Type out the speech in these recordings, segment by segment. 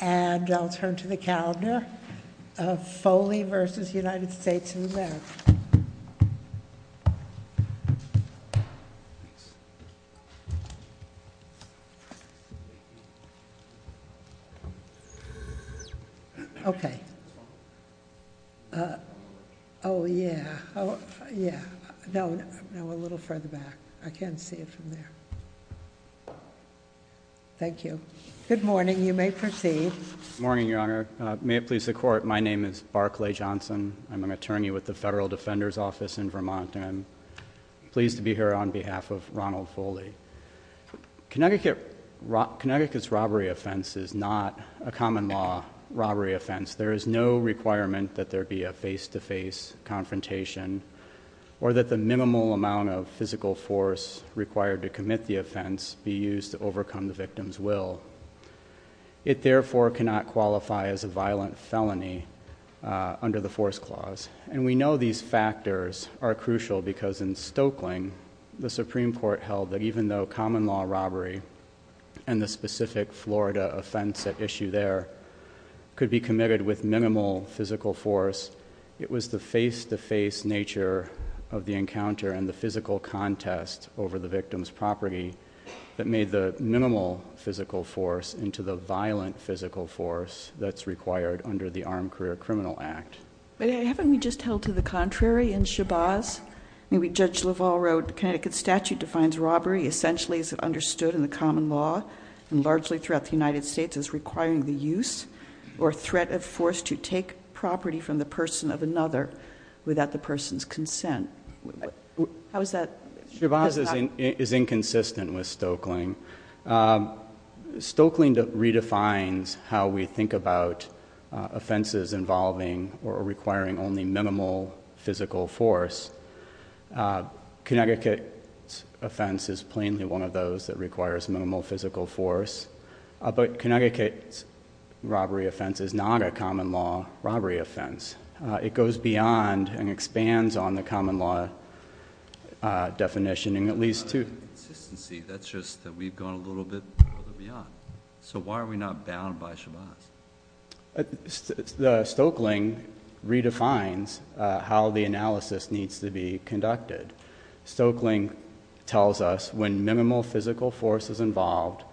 And I'll turn to the calendar of Foley v. United States of America. Oh, yeah. No, a little further back. I can't see it from there. Thank you. Good morning. You may proceed. Good morning, Your Honor. May it please the Court, my name is Barclay Johnson. I'm an attorney with the Federal Defender's Office in Vermont. I'm pleased to be here on behalf of Ronald Foley. Connecticut's robbery offense is not a common law robbery offense. There is no requirement that there be a face-to-face confrontation or that the minimal amount of physical force required to commit the offense be used to overcome the victim's will. It, therefore, cannot qualify as a violent felony under the force clause. And we know these factors are crucial because in Stokeling, the Supreme Court held that even though common law robbery and the specific Florida offense at issue there could be committed with minimal physical force, it was the face-to-face nature of the encounter and the physical contest over the victim's property that made the minimal physical force into the violent physical force that's required under the Armed Career Criminal Act. But haven't we just held to the contrary in Shabazz? Judge LaValle wrote, Connecticut's statute defines robbery essentially as understood in the common law and largely throughout the United States as requiring the use or threat of force to take property from the person of another without the person's consent. How is that? Shabazz is inconsistent with Stokeling. Stokeling redefines how we think about offenses involving or requiring only minimal physical force. Connecticut's offense is plainly one of those that requires minimal physical force. But Connecticut's robbery offense is not a common law robbery offense. It goes beyond and expands on the common law definition in at least two. Consistency, that's just that we've gone a little bit beyond. So why are we not bound by Shabazz? Stokeling redefines how the analysis needs to be conducted. Stokeling tells us when minimal physical force is involved,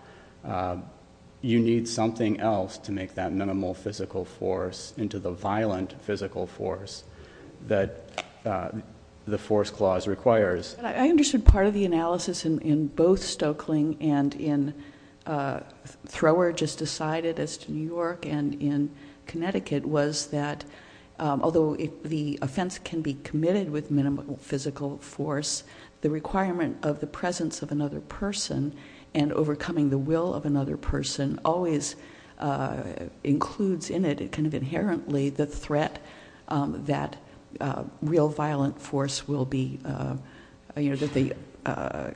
you need something else to make that minimal physical force into the violent physical force that the force clause requires. I understood part of the analysis in both Stokeling and in Thrower just decided as to New York and in Connecticut was that although the offense can be committed with minimal physical force, the requirement of the presence of another person and overcoming the will of another person always includes in it kind of inherently the threat that real violent force will be, that the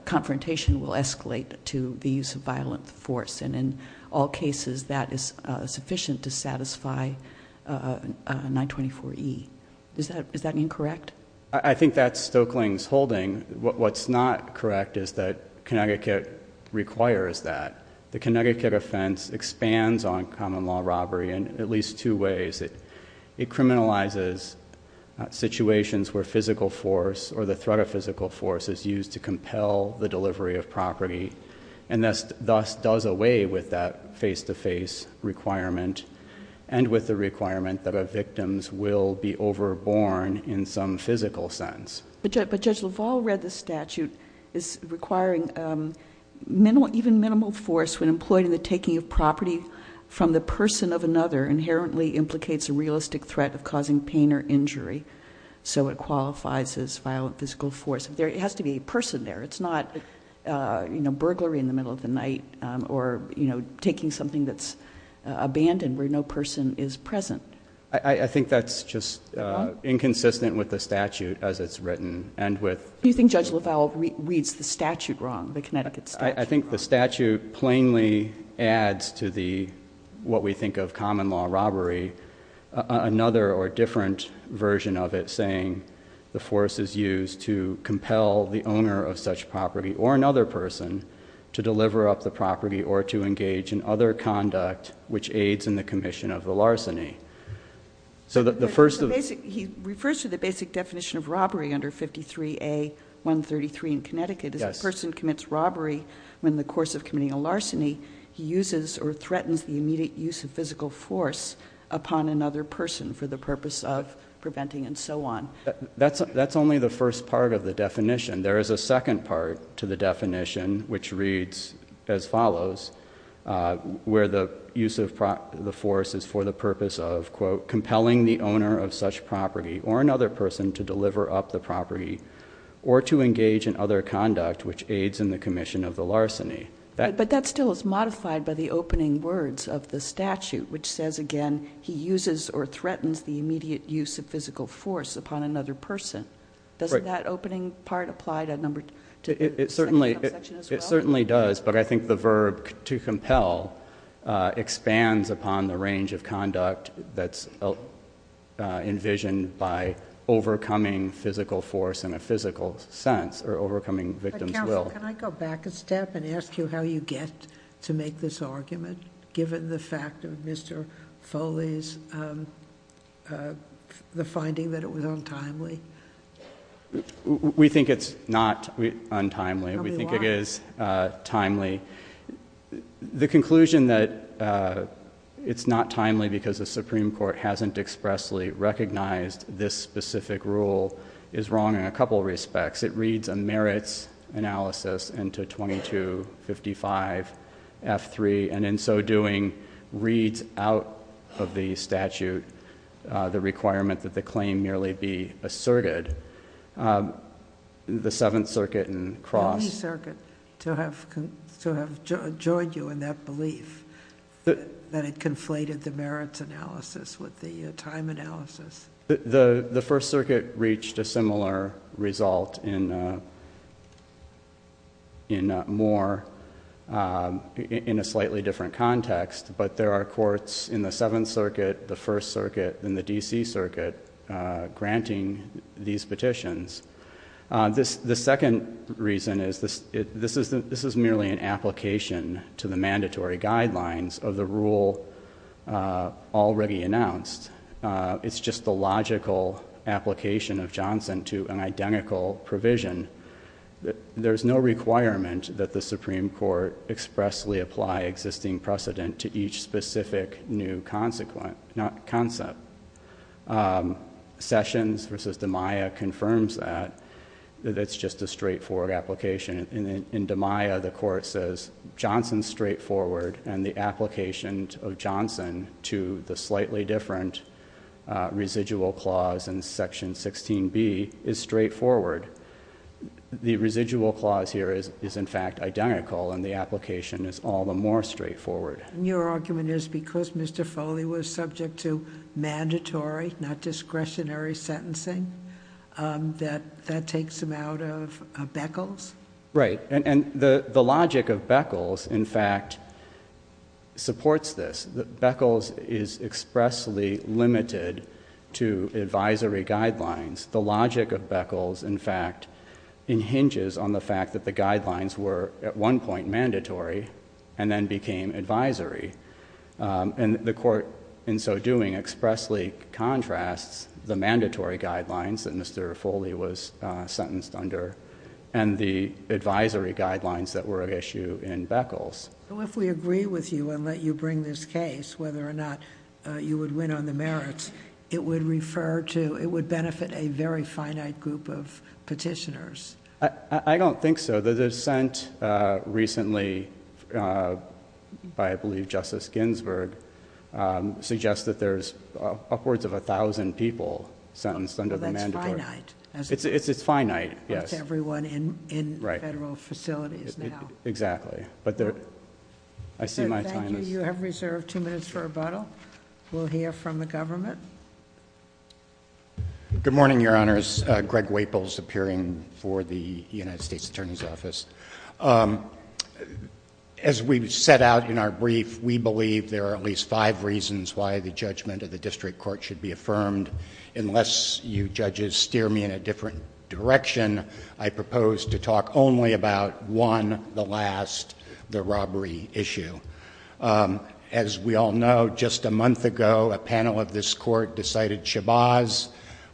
confrontation will escalate to the use of violent force. And in all cases, that is sufficient to satisfy 924E. Is that incorrect? I think that's Stokeling's holding. What's not correct is that Connecticut requires that. The Connecticut offense expands on common law robbery in at least two ways. It criminalizes situations where physical force or the threat of physical force is used to compel the delivery of property and thus does away with that face-to-face requirement and with the requirement that the victims will be overborn in some physical sense. But Judge LaValle read the statute as requiring even minimal force when employed in the taking of property from the person of another inherently implicates a realistic threat of causing pain or injury, so it qualifies as violent physical force. There has to be a person there. It's not burglary in the middle of the night or taking something that's abandoned where no person is present. I think that's just inconsistent with the statute as it's written. Do you think Judge LaValle reads the statute wrong, the Connecticut statute? I think the statute plainly adds to what we think of common law robbery another or different version of it, saying the force is used to compel the owner of such property or another person to deliver up the property or to engage in other conduct which aids in the commission of the larceny. He refers to the basic definition of robbery under 53A.133 in Connecticut. As a person commits robbery in the course of committing a larceny, he uses or threatens the immediate use of physical force upon another person for the purpose of preventing and so on. That's only the first part of the definition. There is a second part to the definition, which reads as follows, where the use of the force is for the purpose of quote compelling the owner of such property or another person to deliver up the property or to engage in other conduct which aids in the commission of the larceny. But that still is modified by the opening words of the statute, which says again, he uses or threatens the immediate use of physical force upon another person. Doesn't that opening part apply to the second section as well? It certainly does, but I think the verb to compel expands upon the range of conduct that's envisioned by overcoming physical force in a physical sense or overcoming victim's will. Can I go back a step and ask you how you get to make this argument given the fact of Mr. Foley's finding that it was untimely? We think it's not untimely. We think it is timely. The conclusion that it's not timely because the Supreme Court hasn't expressly recognized this specific rule is wrong in a couple of respects. It reads a merits analysis into 2255F3 and in so doing reads out of the statute the requirement that the claim merely be asserted. The Seventh Circuit and Cross. The New Circuit to have joined you in that belief that it conflated the merits analysis with the time analysis. The First Circuit reached a similar result in a slightly different context, but there are courts in the Seventh Circuit, the First Circuit, and the D.C. Circuit granting these petitions. The second reason is this is merely an application to the mandatory guidelines of the rule already announced. It's just the logical application of Johnson to an identical provision. There's no requirement that the Supreme Court expressly apply existing precedent to each specific new concept. Sessions v. DiMaia confirms that. It's just a straightforward application. In DiMaia the court says Johnson's straightforward and the application of Johnson to the slightly different residual clause in Section 16B is straightforward. The residual clause here is in fact identical and the application is all the more straightforward. Your argument is because Mr. Foley was subject to mandatory, not discretionary, sentencing that that takes him out of Beckles? Right, and the logic of Beckles in fact supports this. Beckles is expressly limited to advisory guidelines. The logic of Beckles in fact hinges on the fact that the guidelines were at one point mandatory and then became advisory. And the court in so doing expressly contrasts the mandatory guidelines that Mr. Foley was sentenced under and the advisory guidelines that were at issue in Beckles. If we agree with you and let you bring this case, whether or not you would win on the merits, it would benefit a very finite group of petitioners. I don't think so. The dissent recently by I believe Justice Ginsburg suggests that there's upwards of 1,000 people sentenced under the mandatory. That's finite. It's finite, yes. That's everyone in federal facilities now. Exactly. Thank you. You have reserved two minutes for rebuttal. We'll hear from the government. Good morning, Your Honors. Greg Waples appearing for the United States Attorney's Office. As we set out in our brief, we believe there are at least five reasons why the judgment of the district court should be affirmed. Unless you judges steer me in a different direction, I propose to talk only about one, the last, the robbery issue. As we all know, just a month ago, a panel of this court decided Shabazz,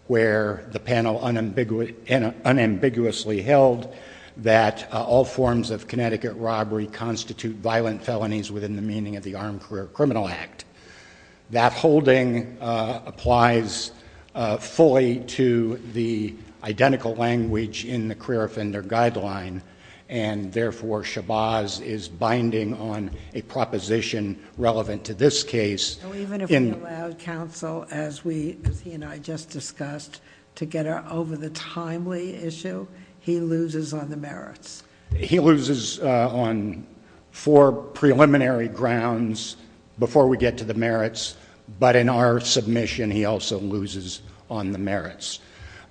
where the panel unambiguously held that all forms of Connecticut robbery constitute violent felonies within the meaning of the Armed Career Criminal Act. That holding applies fully to the identical language in the career offender guideline, and therefore Shabazz is binding on a proposition relevant to this case. Even if we allowed counsel, as he and I just discussed, to get over the timely issue, he loses on the merits. He loses on four preliminary grounds before we get to the merits, but in our submission, he also loses on the merits.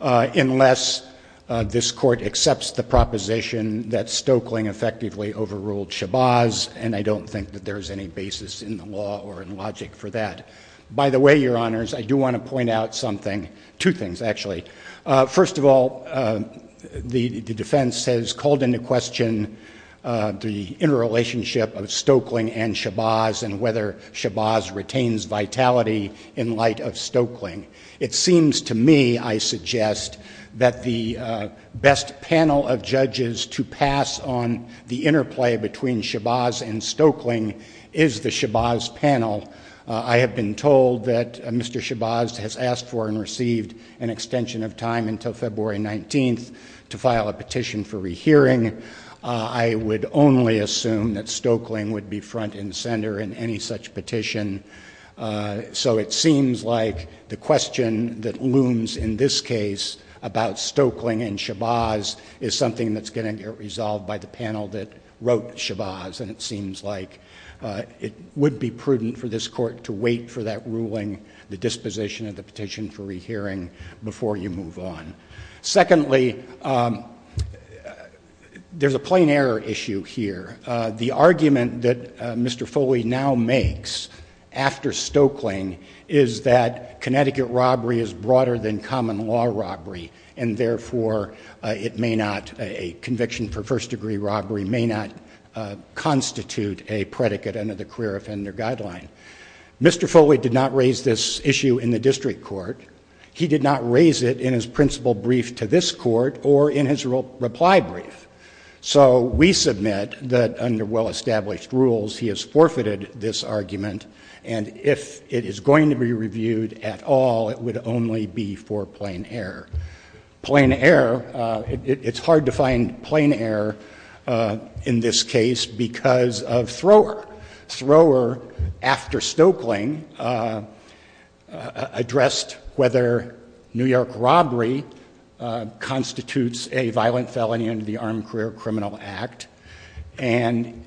Unless this court accepts the proposition that Stoeckling effectively overruled Shabazz, and I don't think that there's any basis in the law or in logic for that. By the way, Your Honors, I do want to point out something, two things, actually. First of all, the defense has called into question the interrelationship of Stoeckling and Shabazz and whether Shabazz retains vitality in light of Stoeckling. It seems to me, I suggest, that the best panel of judges to pass on the interplay between Shabazz and Stoeckling is the Shabazz panel. I have been told that Mr. Shabazz has asked for and received an extension of time until February 19th to file a petition for rehearing. I would only assume that Stoeckling would be front and center in any such petition, so it seems like the question that looms in this case about Stoeckling and Shabazz is something that's going to get resolved by the panel that wrote Shabazz. It seems like it would be prudent for this court to wait for that ruling, the disposition of the petition for rehearing, before you move on. Secondly, there's a plain error issue here. The argument that Mr. Foley now makes after Stoeckling is that Connecticut robbery is broader than common law robbery, and therefore it may not, a constitute a predicate under the career offender guideline. Mr. Foley did not raise this issue in the district court. He did not raise it in his principal brief to this court or in his reply brief. So we submit that under well-established rules, he has forfeited this argument, and if it is going to be reviewed at all, it would only be for plain error. Plain error, it's hard to find plain error in this case because of Thrower. Thrower, after Stoeckling, addressed whether New York robbery constitutes a violent felony under the Armed Career Criminal Act, and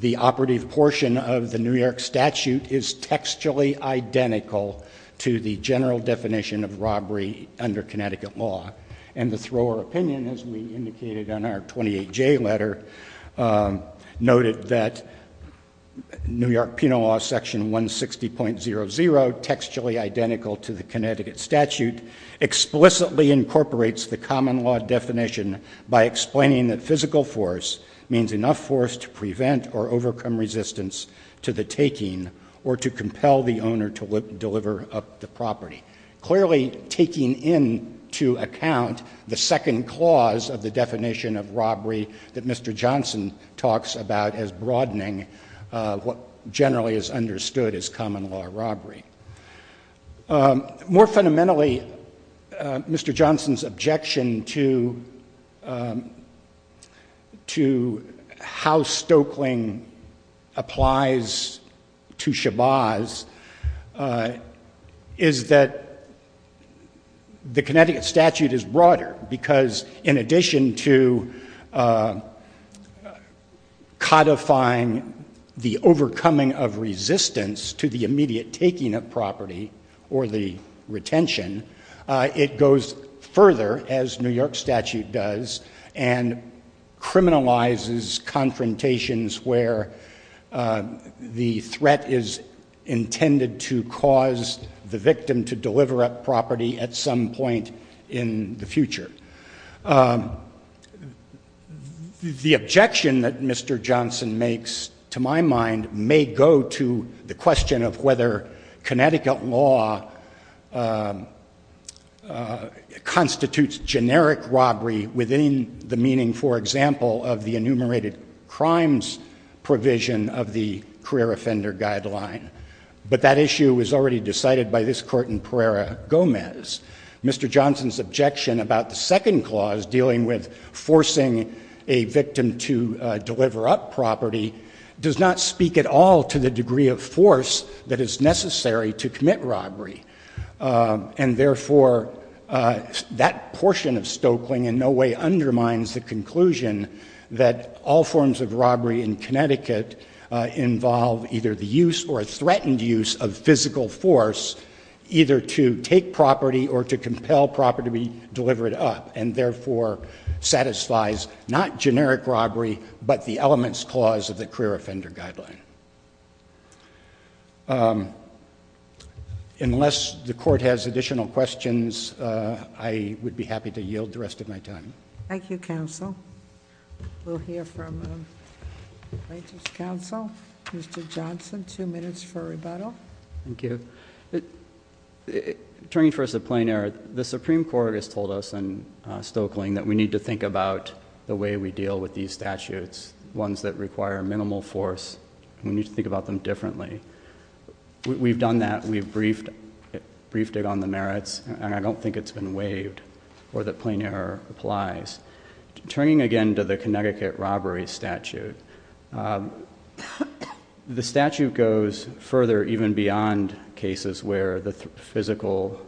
the operative portion of the New York statute is textually identical to the general definition of Connecticut law, and the Thrower opinion, as we indicated in our 28J letter, noted that New York penal law section 160.00, textually identical to the Connecticut statute, explicitly incorporates the common law definition by explaining that physical force means enough force to prevent or overcome resistance to the taking or to compel the owner to deliver up the property. Clearly taking into account the second clause of the definition of robbery that Mr. Johnson talks about as broadening what generally is understood as common law robbery. More fundamentally, Mr. Johnson's objection to how Stoeckling applies to the Connecticut statute is broader, because in addition to codifying the overcoming of resistance to the immediate taking of property, or the retention, it goes further, as New York statute does, and criminalizes confrontations where the threat is intended to cause the victim to deliver up property at some point in the future. The objection that Mr. Johnson makes, to my mind, may go to the question of whether Connecticut law constitutes generic robbery within the meaning, for instance, provision of the career offender guideline. But that issue was already decided by this court in Pereira Gomez. Mr. Johnson's objection about the second clause dealing with forcing a victim to deliver up property does not speak at all to the degree of force that is necessary to commit robbery. And therefore, that portion of Stoeckling in no way undermines the conclusion that all forms of robbery in Connecticut involve either the use or threatened use of physical force, either to take property or to compel property to be delivered up, and therefore satisfies not generic robbery, but the elements clause of the career offender guideline. Unless the Court has additional questions, I would be happy to yield the rest of my time. Thank you. Thank you, counsel. We'll hear from the plaintiff's counsel. Mr. Johnson, two minutes for rebuttal. Thank you. Turning first to plain error, the Supreme Court has told us in Stoeckling that we need to think about the way we deal with these statutes, ones that require minimal force, and we need to think about them differently. We've done that. We've briefed it on the merits, and I don't think it's been waived or that it applies. Turning again to the Connecticut robbery statute, the statute goes further, even beyond cases where the physical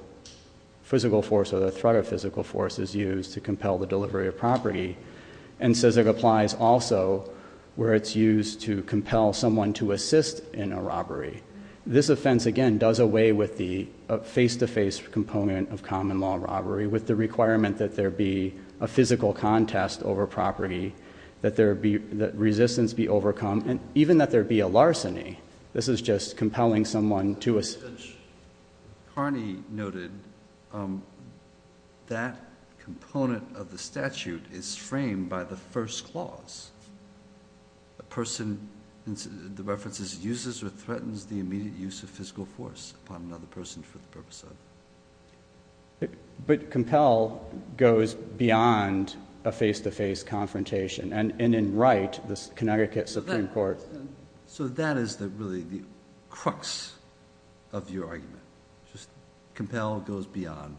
force or the threat of physical force is used to compel the delivery of property, and says it applies also where it's used to compel someone to assist in a robbery. This offense, again, does away with the face-to-face component of common law robbery, with the requirement that there be a physical contest over property, that resistance be overcome, and even that there be a larceny. This is just compelling someone to assist. Carney noted that component of the statute is framed by the first clause. A person, the reference is, uses or threatens the immediate use of physical force upon another person for the purpose of... But compel goes beyond a face-to-face confrontation, and in Wright, the Connecticut Supreme Court... That is really the crux of your argument. Compel goes beyond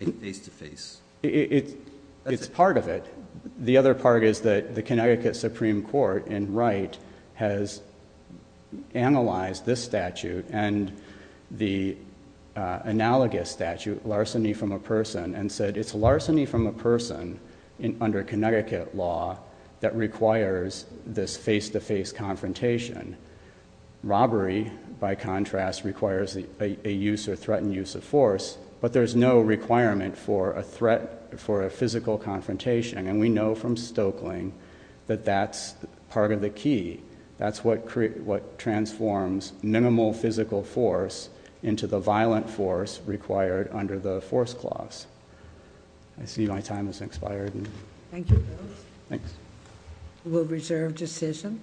a face-to-face... It's part of it. The other part is that the Connecticut Supreme Court, in Wright, has analyzed this statute and the analogous statute, larceny from a person, and said it's larceny from a person under Connecticut law that requires this face-to-face confrontation. Robbery, by contrast, requires a use or threatened use of force, but there's no requirement for a threat for a physical confrontation. We know from Stoeckling that that's part of the key. That's what transforms minimal physical force into the violent force required under the force clause. I see my time has expired. Thank you, Bill. Thanks. We'll reserve decision.